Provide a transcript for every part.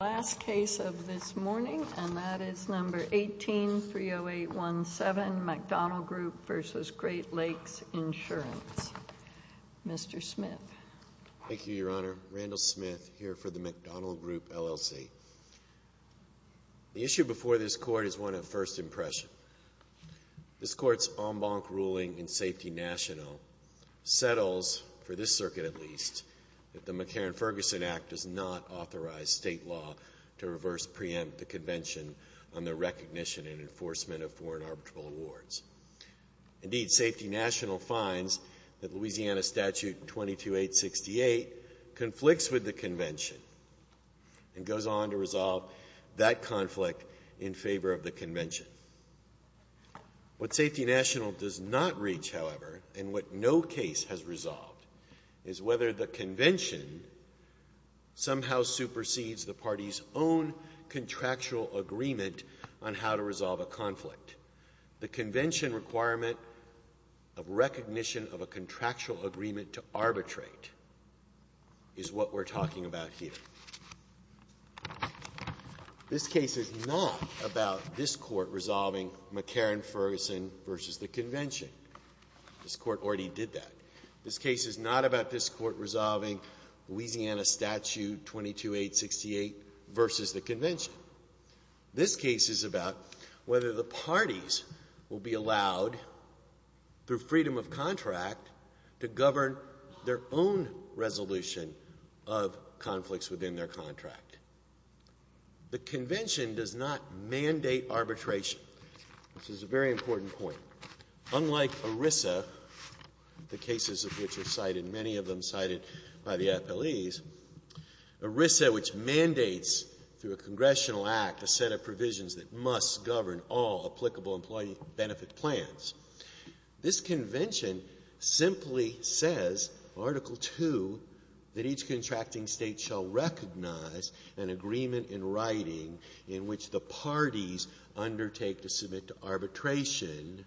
The last case of this morning, and that is number 18-30817, McDonnel Group v. Great Lakes Insurance. Mr. Smith. Thank you, Your Honor. Randall Smith, here for the McDonnel Group, L.L.C. The issue before this Court is one of first impression. This Court's en banc ruling in Safety National settles, for this circuit at least, that the McCarran-Ferguson Act does not authorize state law to reverse preempt the Convention on the Recognition and Enforcement of Foreign Arbitral Awards. Indeed, Safety National finds that Louisiana Statute 22868 conflicts with the Convention and goes on to resolve that conflict in favor of the Convention. What Safety National does not reach, however, and what no case has resolved, is whether the Convention somehow supersedes the party's own contractual agreement on how to resolve a conflict. The Convention requirement of recognition of a contractual agreement to arbitrate is what we're talking about here. This case is not about this Court resolving McCarran-Ferguson v. the Convention. This Court already did that. This case is not about this Court resolving Louisiana Statute 22868 v. the Convention. This case is about whether the parties will be allowed, through freedom of contract, to govern their own resolution of conflicts within their contract. The Convention does not mandate arbitration. This is a very important point. Unlike ERISA, the cases of which are cited, many of them cited by the FLEs, ERISA, which mandates through a congressional act a set of provisions that must govern all applicable employee benefit plans. This Convention simply says, Article II, that each contracting state shall recognize an agreement in writing in which the parties undertake to submit to arbitration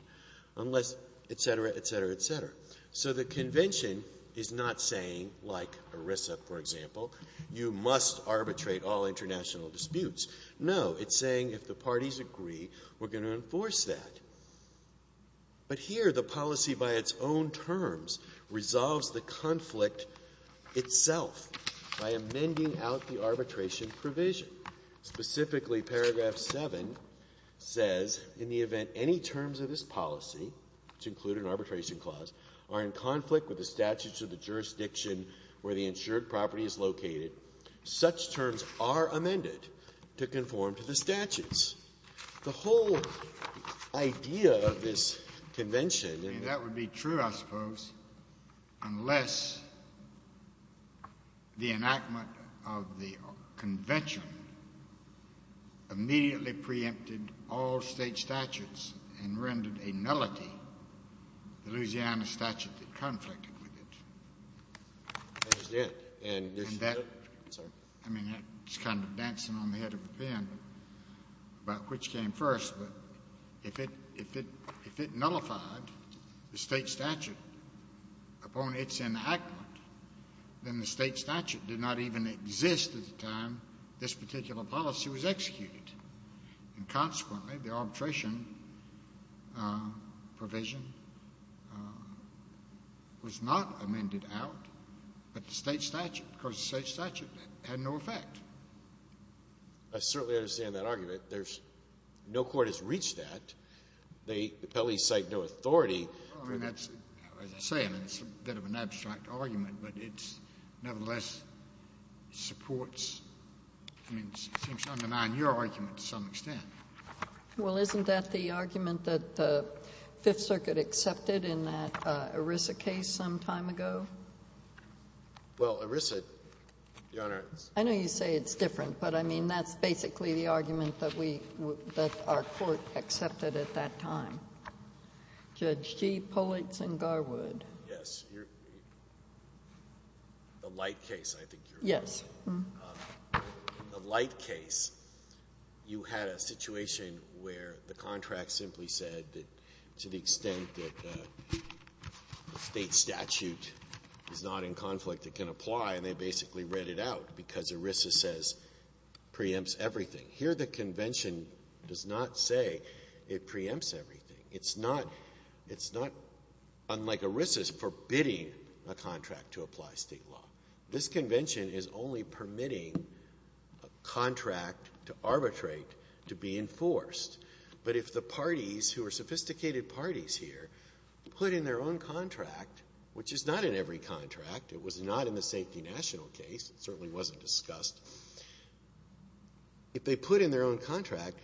unless etc., etc., etc. So the Convention is not saying, like ERISA, for example, you must arbitrate all international disputes. No, it's saying if the parties agree, we're going to enforce that. But here, the policy by its own terms resolves the conflict itself by amending out the arbitration provision. Specifically, Paragraph 7 says, in the event any terms of this policy, to include an arbitration clause, are in conflict with the statutes of the jurisdiction where the insured property is located, such terms are amended to conform to the statutes. The whole idea of this Convention and the other things where the insured property is located. Scalia. That would be true, I suppose, unless the enactment of the Convention immediately preempted all State statutes and rendered a nullity, the Louisiana statute that conflicted with it. That's it. And this is it? I mean, it's kind of dancing on the head of the pen about which came first. But if it nullified the State statute upon its enactment, then the State statute did not even exist at the time this particular policy was executed. And consequently, the arbitration provision was not amended out, but the State statute, because the State statute had no effect. I certainly understand that argument. No court has reached that. The appellees cite no authority. Well, I mean, as I say, it's a bit of an abstract argument, but it nevertheless supports, I mean, it seems to undermine your argument to some extent. Well, isn't that the argument that the Fifth Circuit accepted in that ERISA case some time ago? Well, ERISA, Your Honor, it's... I know you say it's different, but I mean, that's basically the argument that we, that our court accepted at that time. Judge G. Pulitz and Garwood. Yes. The Light case, I think you're referring to. Yes. The Light case, you had a situation where the contract simply said that to the extent that the State statute is not in conflict, it can apply, and they basically read it out because ERISA says it preempts everything. Here, the Convention does not say it preempts everything. It's not, unlike ERISA, it's forbidding a contract to apply State law. This Convention is only permitting a contract to arbitrate to be enforced. But if the parties, who are sophisticated parties here, put in their own contract, which is not in every contract, it was not in the Safety National case, it certainly wasn't discussed. If they put in their own contract,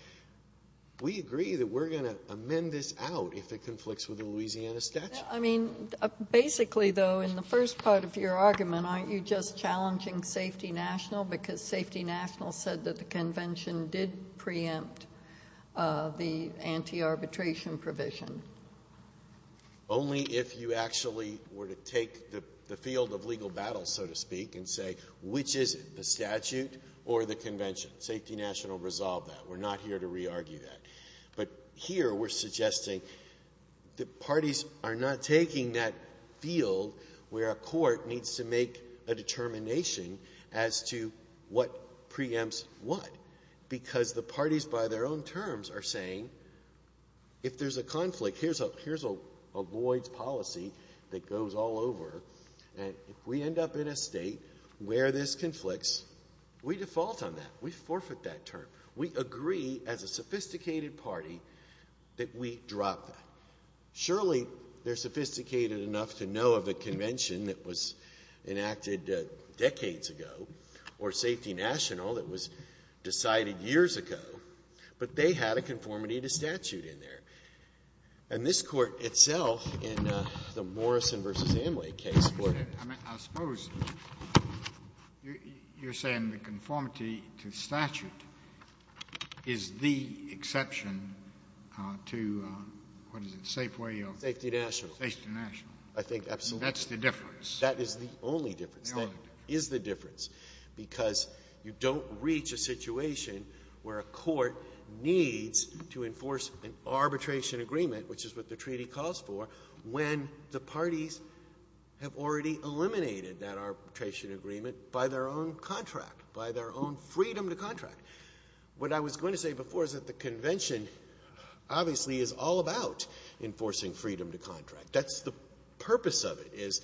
we agree that we're going to amend this out if it conflicts with the Louisiana statute. I mean, basically, though, in the first part of your argument, aren't you just challenging Safety National? Because Safety National said that the Convention did preempt the anti-arbitration provision. Only if you actually were to take the field of legal battle, so to speak, and say, which is it, the statute or the Convention? Safety National resolved that. We're not here to re-argue that. But here, we're suggesting the parties are not taking that field where a court needs to make a determination as to what preempts what, because the parties, by their own terms, are saying, if there's a conflict, here's a Lloyds policy that goes all over, and if we end up in a state where this conflicts, we default on that. We forfeit that term. We agree, as a sophisticated party, that we drop that. Surely, they're sophisticated enough to know of a Convention that was enacted decades ago, or Safety National that was decided years ago, but they had a conformity to statute in there. And this Court itself, in the Morrison v. Amway case, would — I mean, I suppose you're saying the conformity to statute is the exception to, what is it, Safeway or — Safety National. Safety National. I think, absolutely. That's the difference. That is the only difference. The only difference. That is the difference, because you don't reach a situation where a court needs to enforce an arbitration agreement, which is what the treaty calls for, when the parties have already eliminated that arbitration agreement by their own contract, by their own freedom to contract. What I was going to say before is that the Convention obviously is all about enforcing freedom to contract. That's the purpose of it, is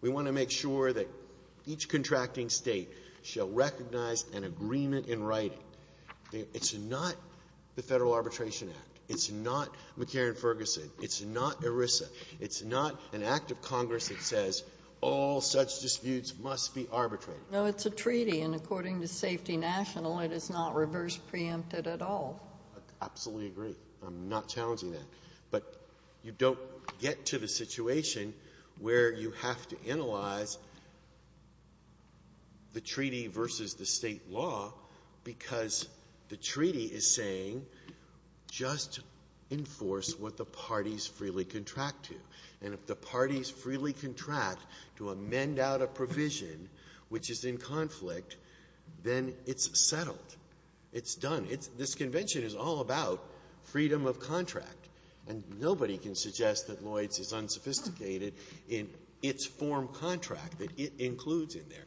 we want to make sure that each contracting state shall recognize an agreement in writing. It's not the Federal Arbitration Act. It's not McCarran-Ferguson. It's not ERISA. It's not an act of Congress that says all such disputes must be arbitrated. No, it's a treaty, and according to Safety National, it is not reverse preempted at all. I absolutely agree. I'm not challenging that. But you don't get to the situation where you have to analyze the treaty versus the State law because the treaty is saying just enforce what the parties freely contract to. And if the parties freely contract to amend out a provision which is in conflict, then it's settled. It's done. This Convention is all about freedom of contract, and nobody can suggest that Lloyd's is unsophisticated in its form contract that it includes in there.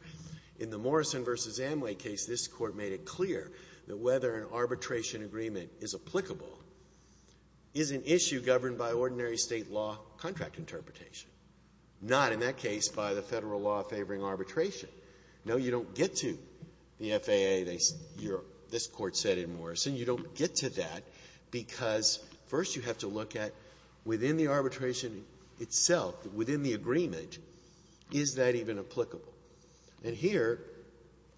In the Morrison v. Amway case, this Court made it clear that whether an arbitration agreement is applicable is an issue governed by ordinary State law contract interpretation, not in that case by the Federal law favoring arbitration. No, you don't get to the FAA. This Court said in Morrison you don't get to that because first you have to look at within the arbitration itself, within the agreement, is that even applicable? And here,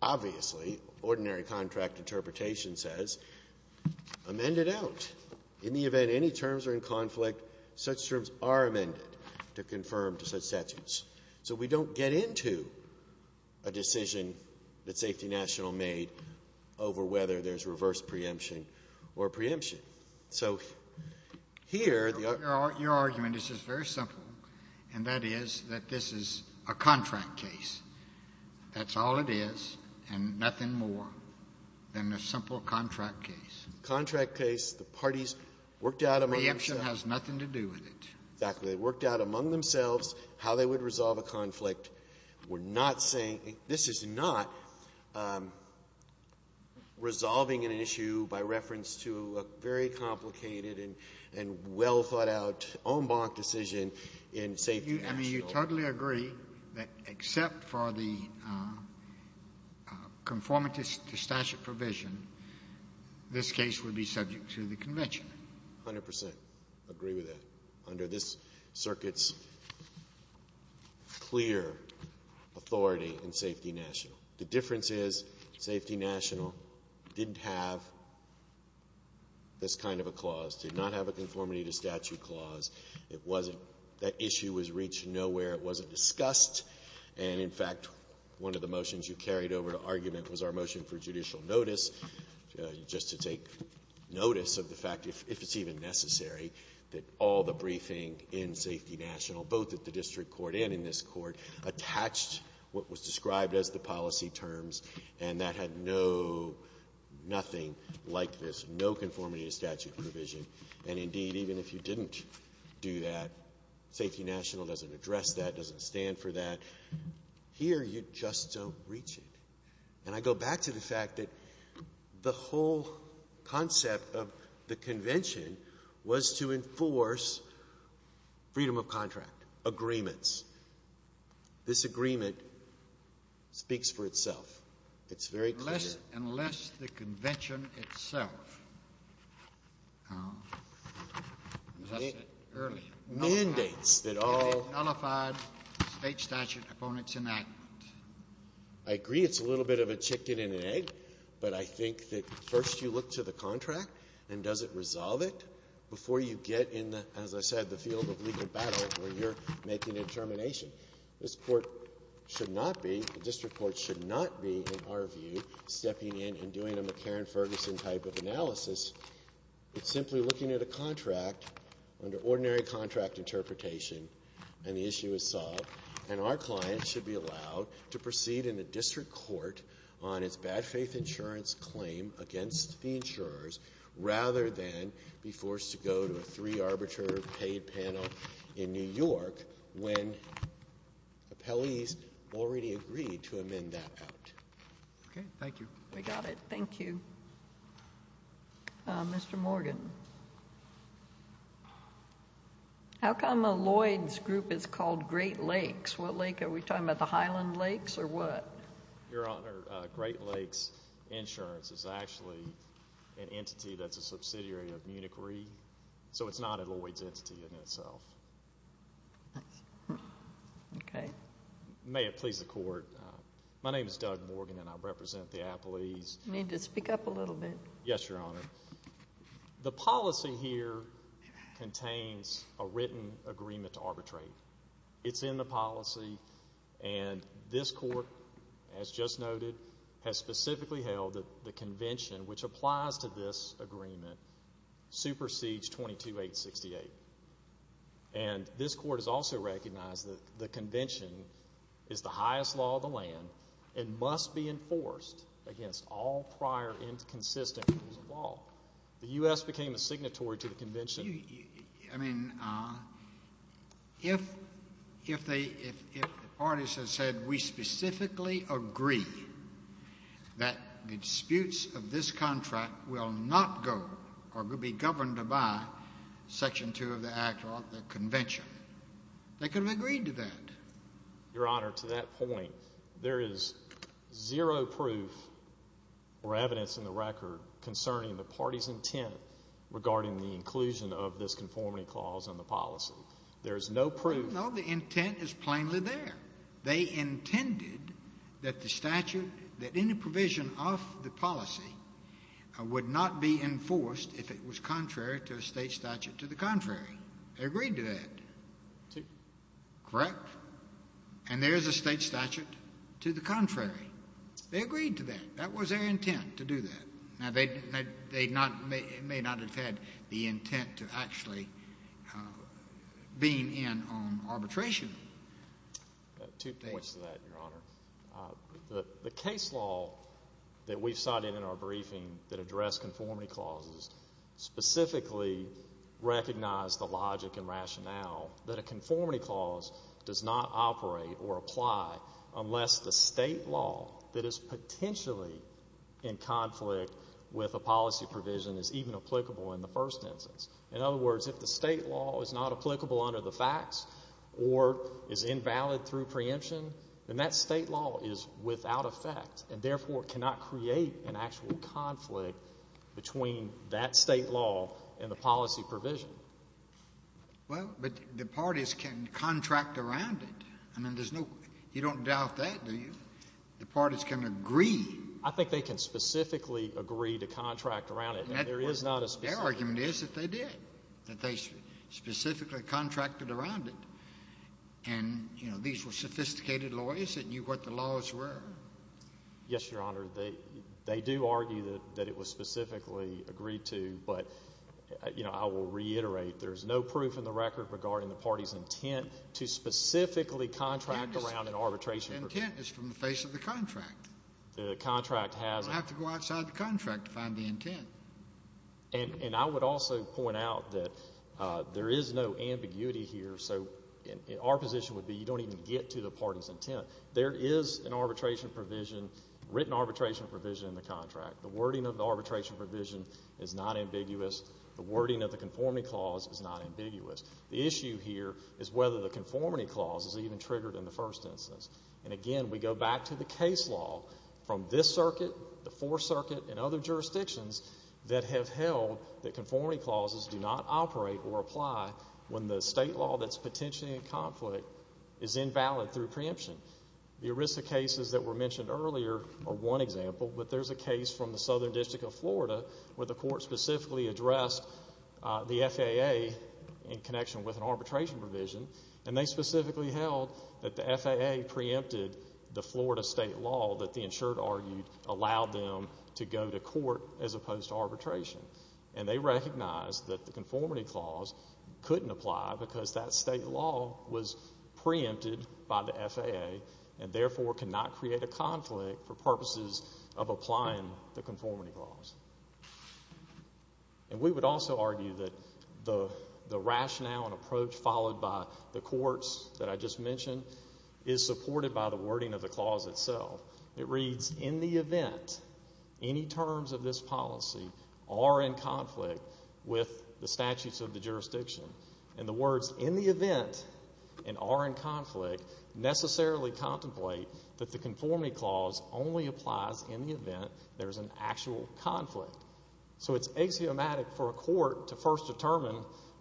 obviously, ordinary contract interpretation says amend it out. In the event any terms are in conflict, such terms are amended to confirm to such statutes. So we don't get into a decision that Safety National made over whether there's reverse preemption or preemption. So here, the argument is very simple, and that is that this is a contract case. That's all it is and nothing more than a simple contract case. Contract case, the parties worked out among themselves. Preemption has nothing to do with it. Exactly. They worked out among themselves how they would resolve a conflict. We're not saying this is not resolving an issue by reference to a very complicated and well-thought-out en banc decision in Safety National. I mean, you totally agree that except for the conformity to statute provision, this case would be subject to the Convention? A hundred percent agree with that, under this Circuit's clear authority in Safety National. The difference is Safety National didn't have this kind of a clause, did not have a conformity to statute clause. It wasn't. That issue was reached nowhere. It wasn't discussed. And in fact, one of the motions you carried over to argument was our motion for judicial notice, just to take notice of the fact, if it's even necessary, that all the briefing in Safety National, both at the district court and in this court, attached what was described as the policy terms and that had no, nothing like this, no conformity to statute provision. And indeed, even if you didn't do that, Safety National doesn't address that, doesn't stand for that. Here, you just don't reach it. And I go back to the fact that the whole concept of the Convention was to enforce freedom of contract agreements. This agreement speaks for itself. It's very clear. Unless the Convention itself, as I said earlier, nullifies state statute opponent's enactment. I agree it's a little bit of a chicken and an egg, but I think that first you look to the contract and does it resolve it before you get in the, as I said, the field of legal battle where you're making a determination. This court should not be, the district court should not be, in our view, stepping in and doing a McCarran-Ferguson type of analysis. It's simply looking at a contract under ordinary contract interpretation and the issue is solved. And our client should be allowed to proceed in a district court on its bad faith insurance claim against the insurers rather than be forced to go to a three-arbiter paid panel in New York when appellees already agreed to amend that out. Okay. Thank you. We got it. Thank you. Mr. Morgan. How come Lloyd's group is called Great Lakes? What lake? Are we talking about the Highland Lakes or what? Your Honor, Great Lakes Insurance is actually an entity that's a subsidiary of Munich Re. So it's not a Lloyd's entity in itself. Thanks. Okay. May it please the Court. My name is Doug Morgan and I represent the appellees. You need to speak up a little bit. Yes, Your Honor. The policy here contains a written agreement to arbitrate. It's in the policy and this court, as just noted, has specifically held that the convention which applies to this agreement supersedes 22-868. And this court has also recognized that the convention is the highest law of the land and must be enforced against all prior inconsistent rules of law. The U.S. became a signatory to the convention. I mean, if the parties have said, we specifically agree that the disputes of this contract will not go or be governed by Section 2 of the Act or the convention, they could have agreed to that. Your Honor, to that point, there is zero proof or evidence in the record concerning the party's intent regarding the inclusion of this conformity clause in the policy. There is no proof. No, the intent is plainly there. They intended that the statute, that any provision of the policy would not be enforced if it was contrary to a state statute to the contrary. They agreed to that. Correct? And there is a state statute to the contrary. They agreed to that. That was their intent, to do that. Now, they may not have had the intent to actually being in on arbitration. Two points to that, Your Honor. The case law that we cited in our briefing that addressed conformity clauses specifically recognized the logic and rationale that a conformity clause does not operate or apply unless the state law that is potentially in conflict with a policy provision is even applicable in the first instance. In other words, if the state law is not applicable under the facts or is invalid through preemption, then that state law is without effect and therefore cannot create an actual conflict between that state law and the policy provision. Well, but the parties can contract around it. I mean, there's no... You don't doubt that, do you? The parties can agree. I think they can specifically agree to contract around it. Their argument is that they did, that they specifically contracted around it. And, you know, these were sophisticated lawyers that knew what the laws were. Yes, Your Honor. They do argue that it was specifically agreed to, but, you know, I will reiterate, there's no proof in the record regarding the party's intent to specifically contract around an arbitration provision. The intent is from the face of the contract. The contract has... You don't have to go outside the contract to find the intent. And I would also point out that there is no ambiguity here, so our position would be you don't even get to the party's intent. There is an arbitration provision, written arbitration provision in the contract. The wording of the arbitration provision is not ambiguous. The wording of the conformity clause is not ambiguous. The issue here is whether the conformity clause is even triggered in the first instance. And, again, we go back to the case law. From this circuit, the Fourth Circuit, and other jurisdictions that have held that conformity clauses do not operate or apply when the state law that's potentially in conflict is invalid through preemption. The ERISA cases that were mentioned earlier are one example, but there's a case from the Southern District of Florida where the court specifically addressed the FAA in connection with an arbitration provision, and they specifically held that the FAA preempted the Florida state law that the insured argued allowed them to go to court as opposed to arbitration. And they recognized that the conformity clause couldn't apply because that state law was preempted by the FAA and therefore cannot create a conflict for purposes of applying the conformity clause. And we would also argue that the rationale and approach followed by the courts that I just mentioned is supported by the wording of the clause itself. It reads, in the event any terms of this policy are in conflict with the statutes of the jurisdiction. And the words in the event and are in conflict necessarily contemplate that the conformity clause only applies in the event there's an actual conflict. So it's axiomatic for a court to first determine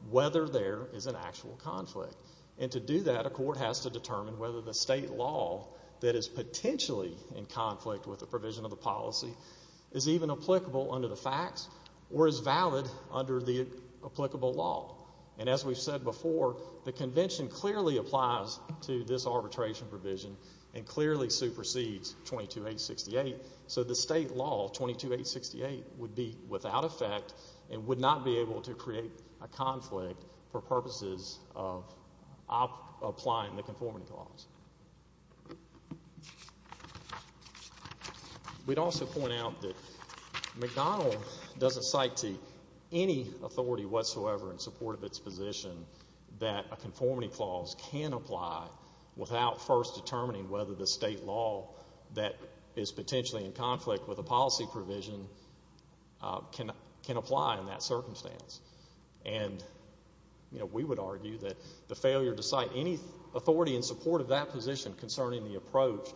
whether there is an actual conflict. And to do that, a court has to determine whether the state law that is potentially in conflict with the provision of the policy is even applicable under the facts or is valid under the applicable law. And as we've said before, the convention clearly applies to this arbitration provision and clearly supersedes 22868. So the state law, 22868, would be without effect and would not be able to create a conflict for purposes of applying the conformity clause. We'd also point out that McDonnell doesn't cite to any authority whatsoever in support of its position that a conformity clause can apply without first determining whether the state law that is potentially in conflict with a policy provision can apply in that circumstance. And, you know, we would argue that the failure to cite any authority in support of that position concerning the approach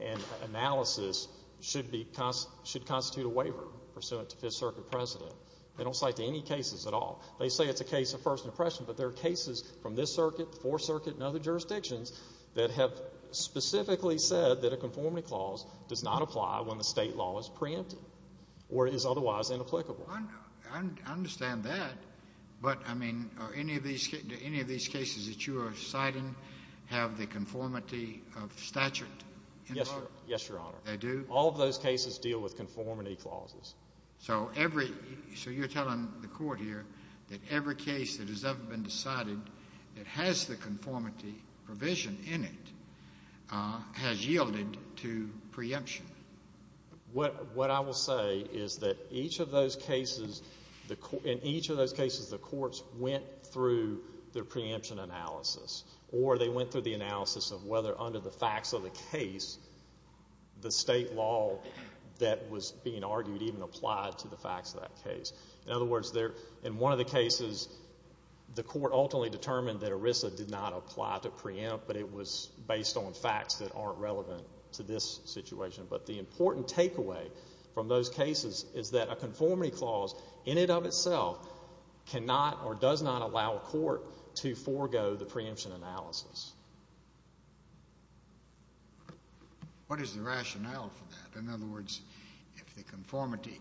and analysis should constitute a waiver pursuant to Fifth Circuit precedent. They don't cite to any cases at all. They say it's a case of first impression, but there are cases from this circuit, the Fourth Circuit, and other jurisdictions that have specifically said that a conformity clause does not apply when the state law is preempted or is otherwise inapplicable. I understand that, but, I mean, do any of these cases that you are citing have the conformity of statute involved? Yes, Your Honor. They do? All of those cases deal with conformity clauses. So you're telling the court here that every case that has ever been decided that has the conformity provision in it has yielded to preemption? What I will say is that each of those cases, in each of those cases, the courts went through their preemption analysis or they went through the analysis of whether under the facts of the case the state law that was being argued even applied to the facts of that case. In other words, in one of the cases, the court ultimately determined that ERISA did not apply to preempt, but it was based on facts that aren't relevant to this situation, but the important takeaway from those cases is that a conformity clause in and of itself cannot or does not allow a court to forego the preemption analysis. What is the rationale for that? In other words, if the conformity...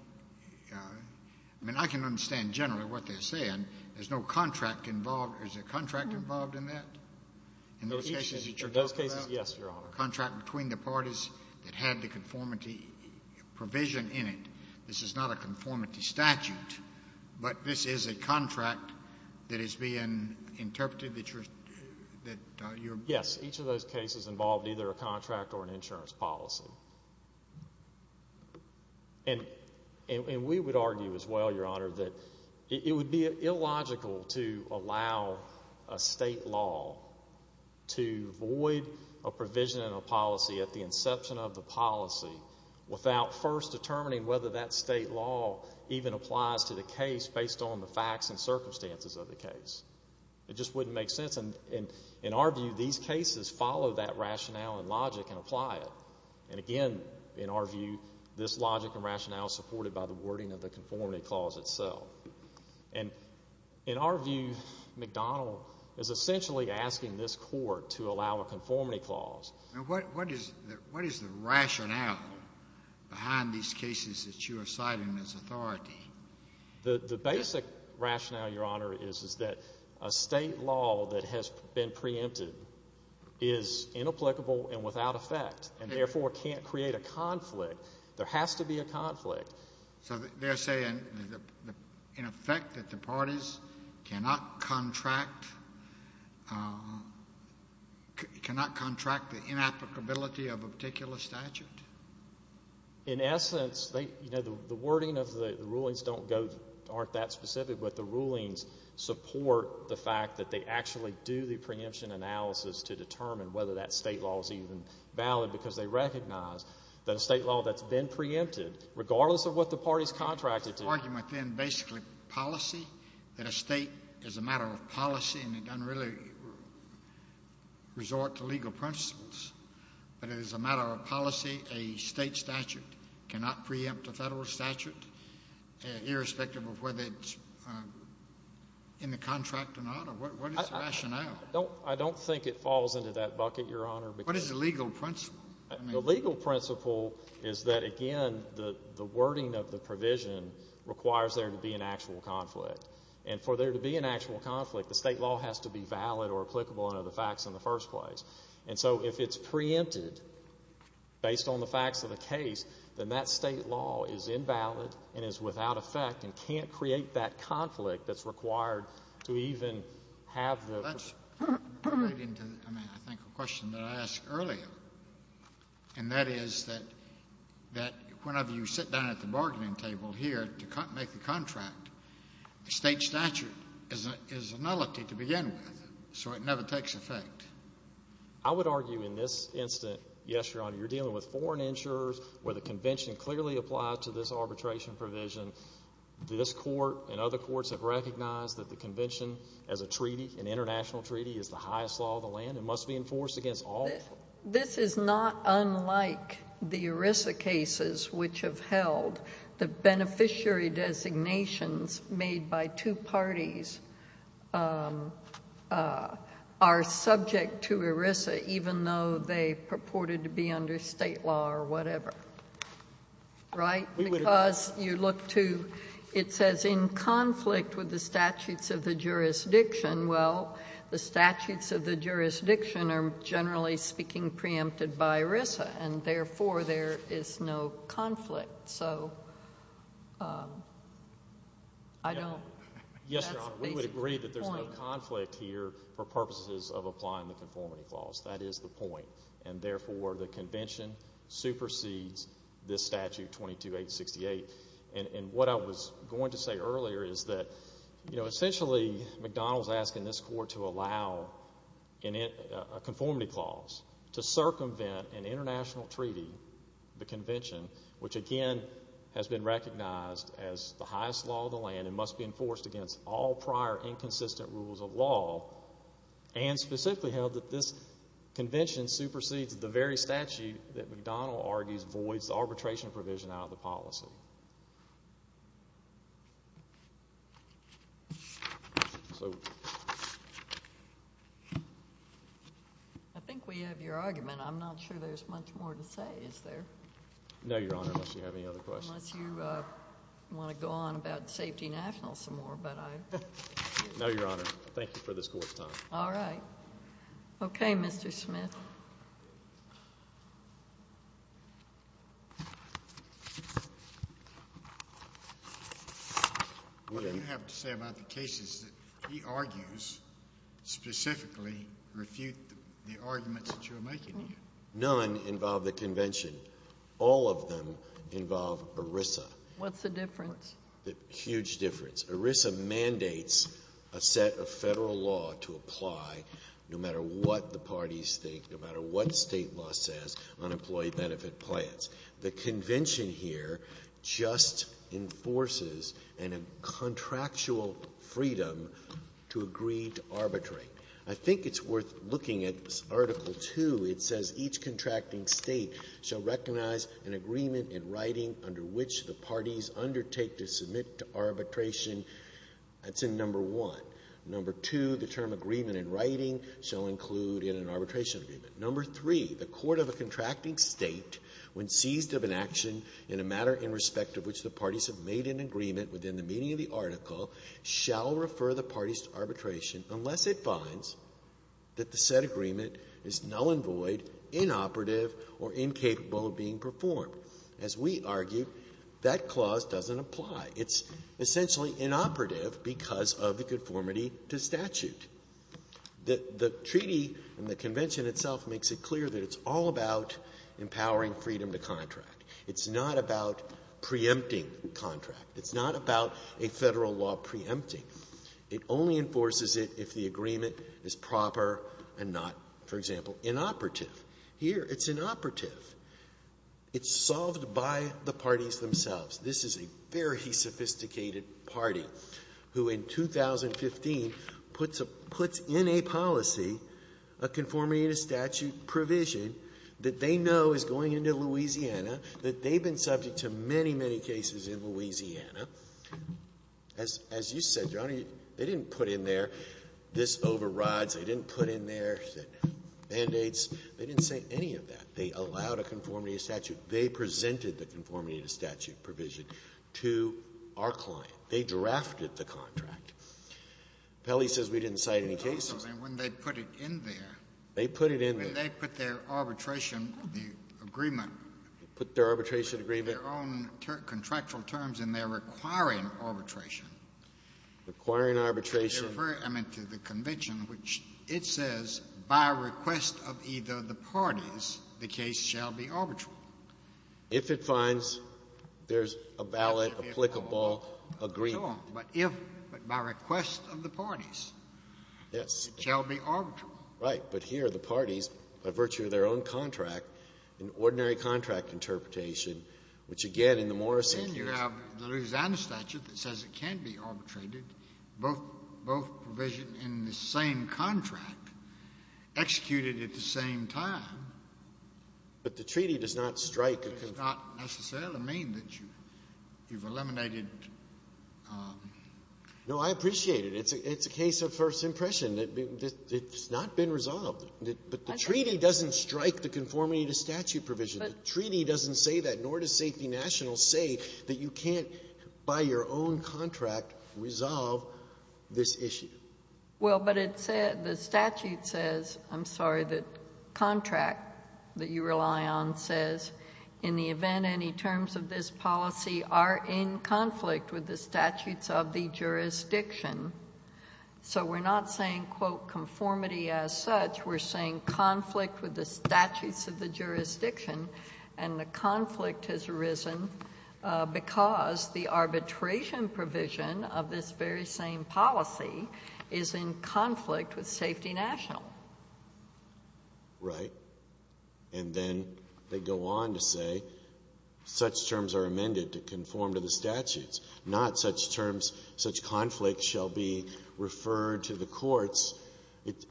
I mean, I can understand generally what they're saying. There's no contract involved. Is there a contract involved in that? In those cases that you're talking about? Yes, Your Honor. Is there a contract between the parties that had the conformity provision in it? This is not a conformity statute, but this is a contract that is being interpreted that you're... Yes, each of those cases involved either a contract or an insurance policy. And we would argue as well, Your Honor, that it would be illogical to allow a state law to void a provision in a policy at the inception of the policy without first determining whether that state law even applies to the case based on the facts and circumstances of the case. It just wouldn't make sense. And in our view, these cases follow that rationale and logic and apply it. And again, in our view, this logic and rationale is supported by the wording of the conformity clause itself. And in our view, McDonnell is essentially asking this court to allow a conformity clause. What is the rationale behind these cases that you are citing as authority? The basic rationale, Your Honor, is that a state law that has been preempted is inapplicable and without effect and therefore can't create a conflict. There has to be a conflict. So they're saying in effect that the parties cannot contract... cannot contract the inapplicability of a particular statute? In essence, you know, the wording of the rulings don't go...aren't that specific, but the rulings support the fact that they actually do the preemption analysis to determine whether that state law is even valid, because they recognize that a state law that's been preempted, regardless of what the parties contracted to... The argument then, basically, is that it's a policy, that a state is a matter of policy and it doesn't really resort to legal principles, but it is a matter of policy. A state statute cannot preempt a federal statute, irrespective of whether it's in the contract or not. What is the rationale? I don't think it falls into that bucket, Your Honor. What is the legal principle? The legal principle is that, again, the wording of the provision requires there to be an actual conflict. And for there to be an actual conflict, the state law has to be valid or applicable under the facts in the first place. And so, if it's preempted, based on the facts of the case, then that state law is invalid and is without effect and can't create that conflict that's required to even have the... That's relating to, I mean, I think, a question that I asked earlier. And that is that... that whenever you sit down at the bargaining table here to make the contract, the state statute is a nullity to begin with, so it never takes effect. I would argue in this instance, yes, Your Honor, you're dealing with foreign insurers where the convention clearly applies to this arbitration provision. This court and other courts have recognized that the convention as a treaty, an international treaty, is the highest law of the land and must be enforced against all... This is not unlike the ERISA cases which have held that beneficiary designations made by two parties are subject to ERISA even though they purported to be under state law or whatever. Right? Because you look to... It says in conflict with the statutes of the jurisdiction. Well, the statutes of the jurisdiction are generally speaking preempted by ERISA, and therefore there is no conflict. So, I don't... Yes, Your Honor, we would agree that there's no conflict here for purposes of applying the conformity clause. That is the point, and therefore the convention supersedes this statute, 22-868. And what I was going to say earlier is that, you know, essentially McDonald's asking this court to allow a conformity clause to circumvent an international treaty and the convention, which, again, has been recognized as the highest law of the land and must be enforced against all prior inconsistent rules of law and specifically held that this convention supersedes the very statute that McDonald argues voids the arbitration provision out of the policy. I think we have your argument. I'm not sure there's much more to say, is there? No, Your Honor, unless you have any other questions. Unless you want to go on about Safety National some more, but I... No, Your Honor. Thank you for this court's time. All right. Okay, Mr. Smith. What do you have to say about the cases that he argues specifically refute the arguments that you're making here? None involve the convention. All of them involve ERISA. What's the difference? Huge difference. ERISA mandates a set of federal law to apply no matter what the parties think, no matter what state law says on employee benefit plans. The convention here just enforces and a contractual freedom to agree to arbitrate. I think it's worth looking at Article 2. It says each contracting state shall recognize an agreement in writing under which the parties undertake to submit to arbitration. That's in Number 1. Number 2, the term agreement in writing shall include in an arbitration agreement. Number 3, the court of a contracting state when seized of an action in a matter in respect of which the parties have made an agreement within the meaning of the article shall refer the parties to arbitration unless it finds that the said agreement is null and void, inoperative or incapable of being performed. As we argue, that clause doesn't apply. It's essentially inoperative because of the conformity to statute. The treaty and the convention itself makes it clear that it's all about empowering freedom to contract. It's not about preempting contract. It's not about a Federal law preempting. It only enforces it if the agreement is proper and not, for example, inoperative. Here, it's inoperative. It's solved by the parties themselves. This is a very sophisticated party who in 2015 puts a puts in a policy of conformity to statute provision that they know is going into Louisiana, that they've been subject to many, many cases in Louisiana. As you said, Your Honor, they didn't put in there this overrides. They didn't put in there mandates. They didn't say any of that. They allowed a conformity to statute. They presented the conformity to statute provision to our client. They drafted the contract. Pelley says we didn't cite any cases. And also, when they put it in there, they put it in there. When they put their arbitration agreement, their own contractual terms in their requiring arbitration. Requiring arbitration. I mean, to the convention, which it says by request of either the parties, the case shall be arbitral. If it finds there's a valid, applicable agreement. But if, by request of the parties, it shall be arbitral. Right. But here, the parties, by virtue of their own contract, an ordinary contract interpretation, which, again, in the Morrison case And you have the Louisiana statute that says it can be arbitrated, both provision in the same contract executed at the same time. But the treaty does not strike a conformity. It does not necessarily mean that you've eliminated No, I appreciate it. It's a case of first impression. It's not been resolved. But the treaty doesn't strike the conformity to statute provision. The treaty doesn't say that, nor does Safety National say that you can't by your own contract resolve this issue. Well, but it says, the statute says, I'm sorry, the contract that you rely on says in the event any terms of this policy are in conflict with the statute and the conflict has arisen because the arbitration provision of this very same policy is in conflict with Safety National. Right. And then they go on to say such terms are amended to conform to the statutes, not such terms, such conflicts shall be referred to the courts.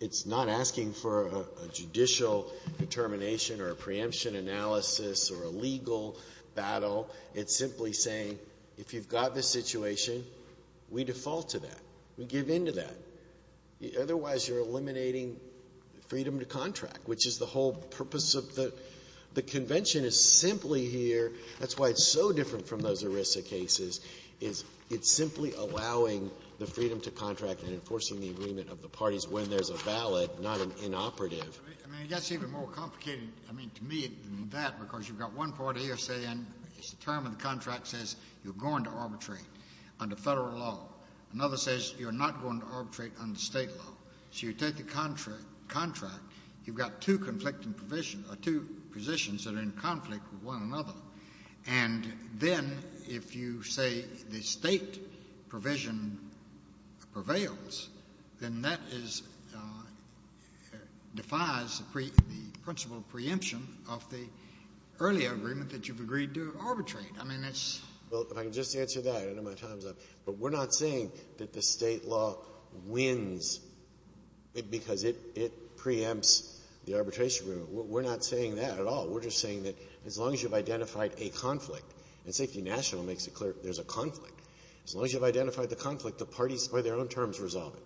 It's not asking for a judicial determination or a preemption analysis or a legal battle. It's simply saying if you've got this situation we default to that, we give in to that. Otherwise you're eliminating freedom to contract which is the whole purpose of the convention. The convention is simply here, that's why it's so different from those ERISA cases, it's simply allowing the freedom to contract and enforcing the agreement of the parties when there's a ballot not an inoperative. I mean that's even more complicated to me than that because you've got one party saying the term of the contract says you're going to arbitrate under federal law. Another says you're not going to arbitrate under state law. So you take the contract you've got two conflicting positions that are in conflict with one another and then if you say the state provision prevails then that is defies the principle of preemption of the earlier agreement that you've agreed to arbitrate. I mean that's Well if I can just answer that I know my time's up but we're not saying that the state law wins because it preempts the arbitration agreement. We're not saying that at all. We're just saying that as long as you've identified a conflict and Safety National makes it clear there's a conflict as long as you've identified the conflict the parties by their own terms resolve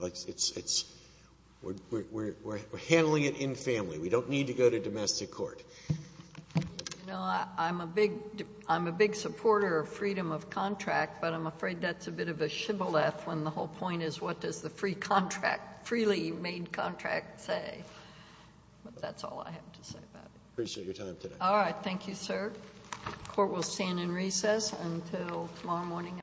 it. We're handling it in family. We don't need to go to domestic court. I'm a big supporter of freedom of contract but I'm afraid that's a bit of a shibboleth when the whole point is what does the free contract freely made and what does the free contract say? That's all I have to say. Thank you sir. The court will stand in recess until tomorrow morning.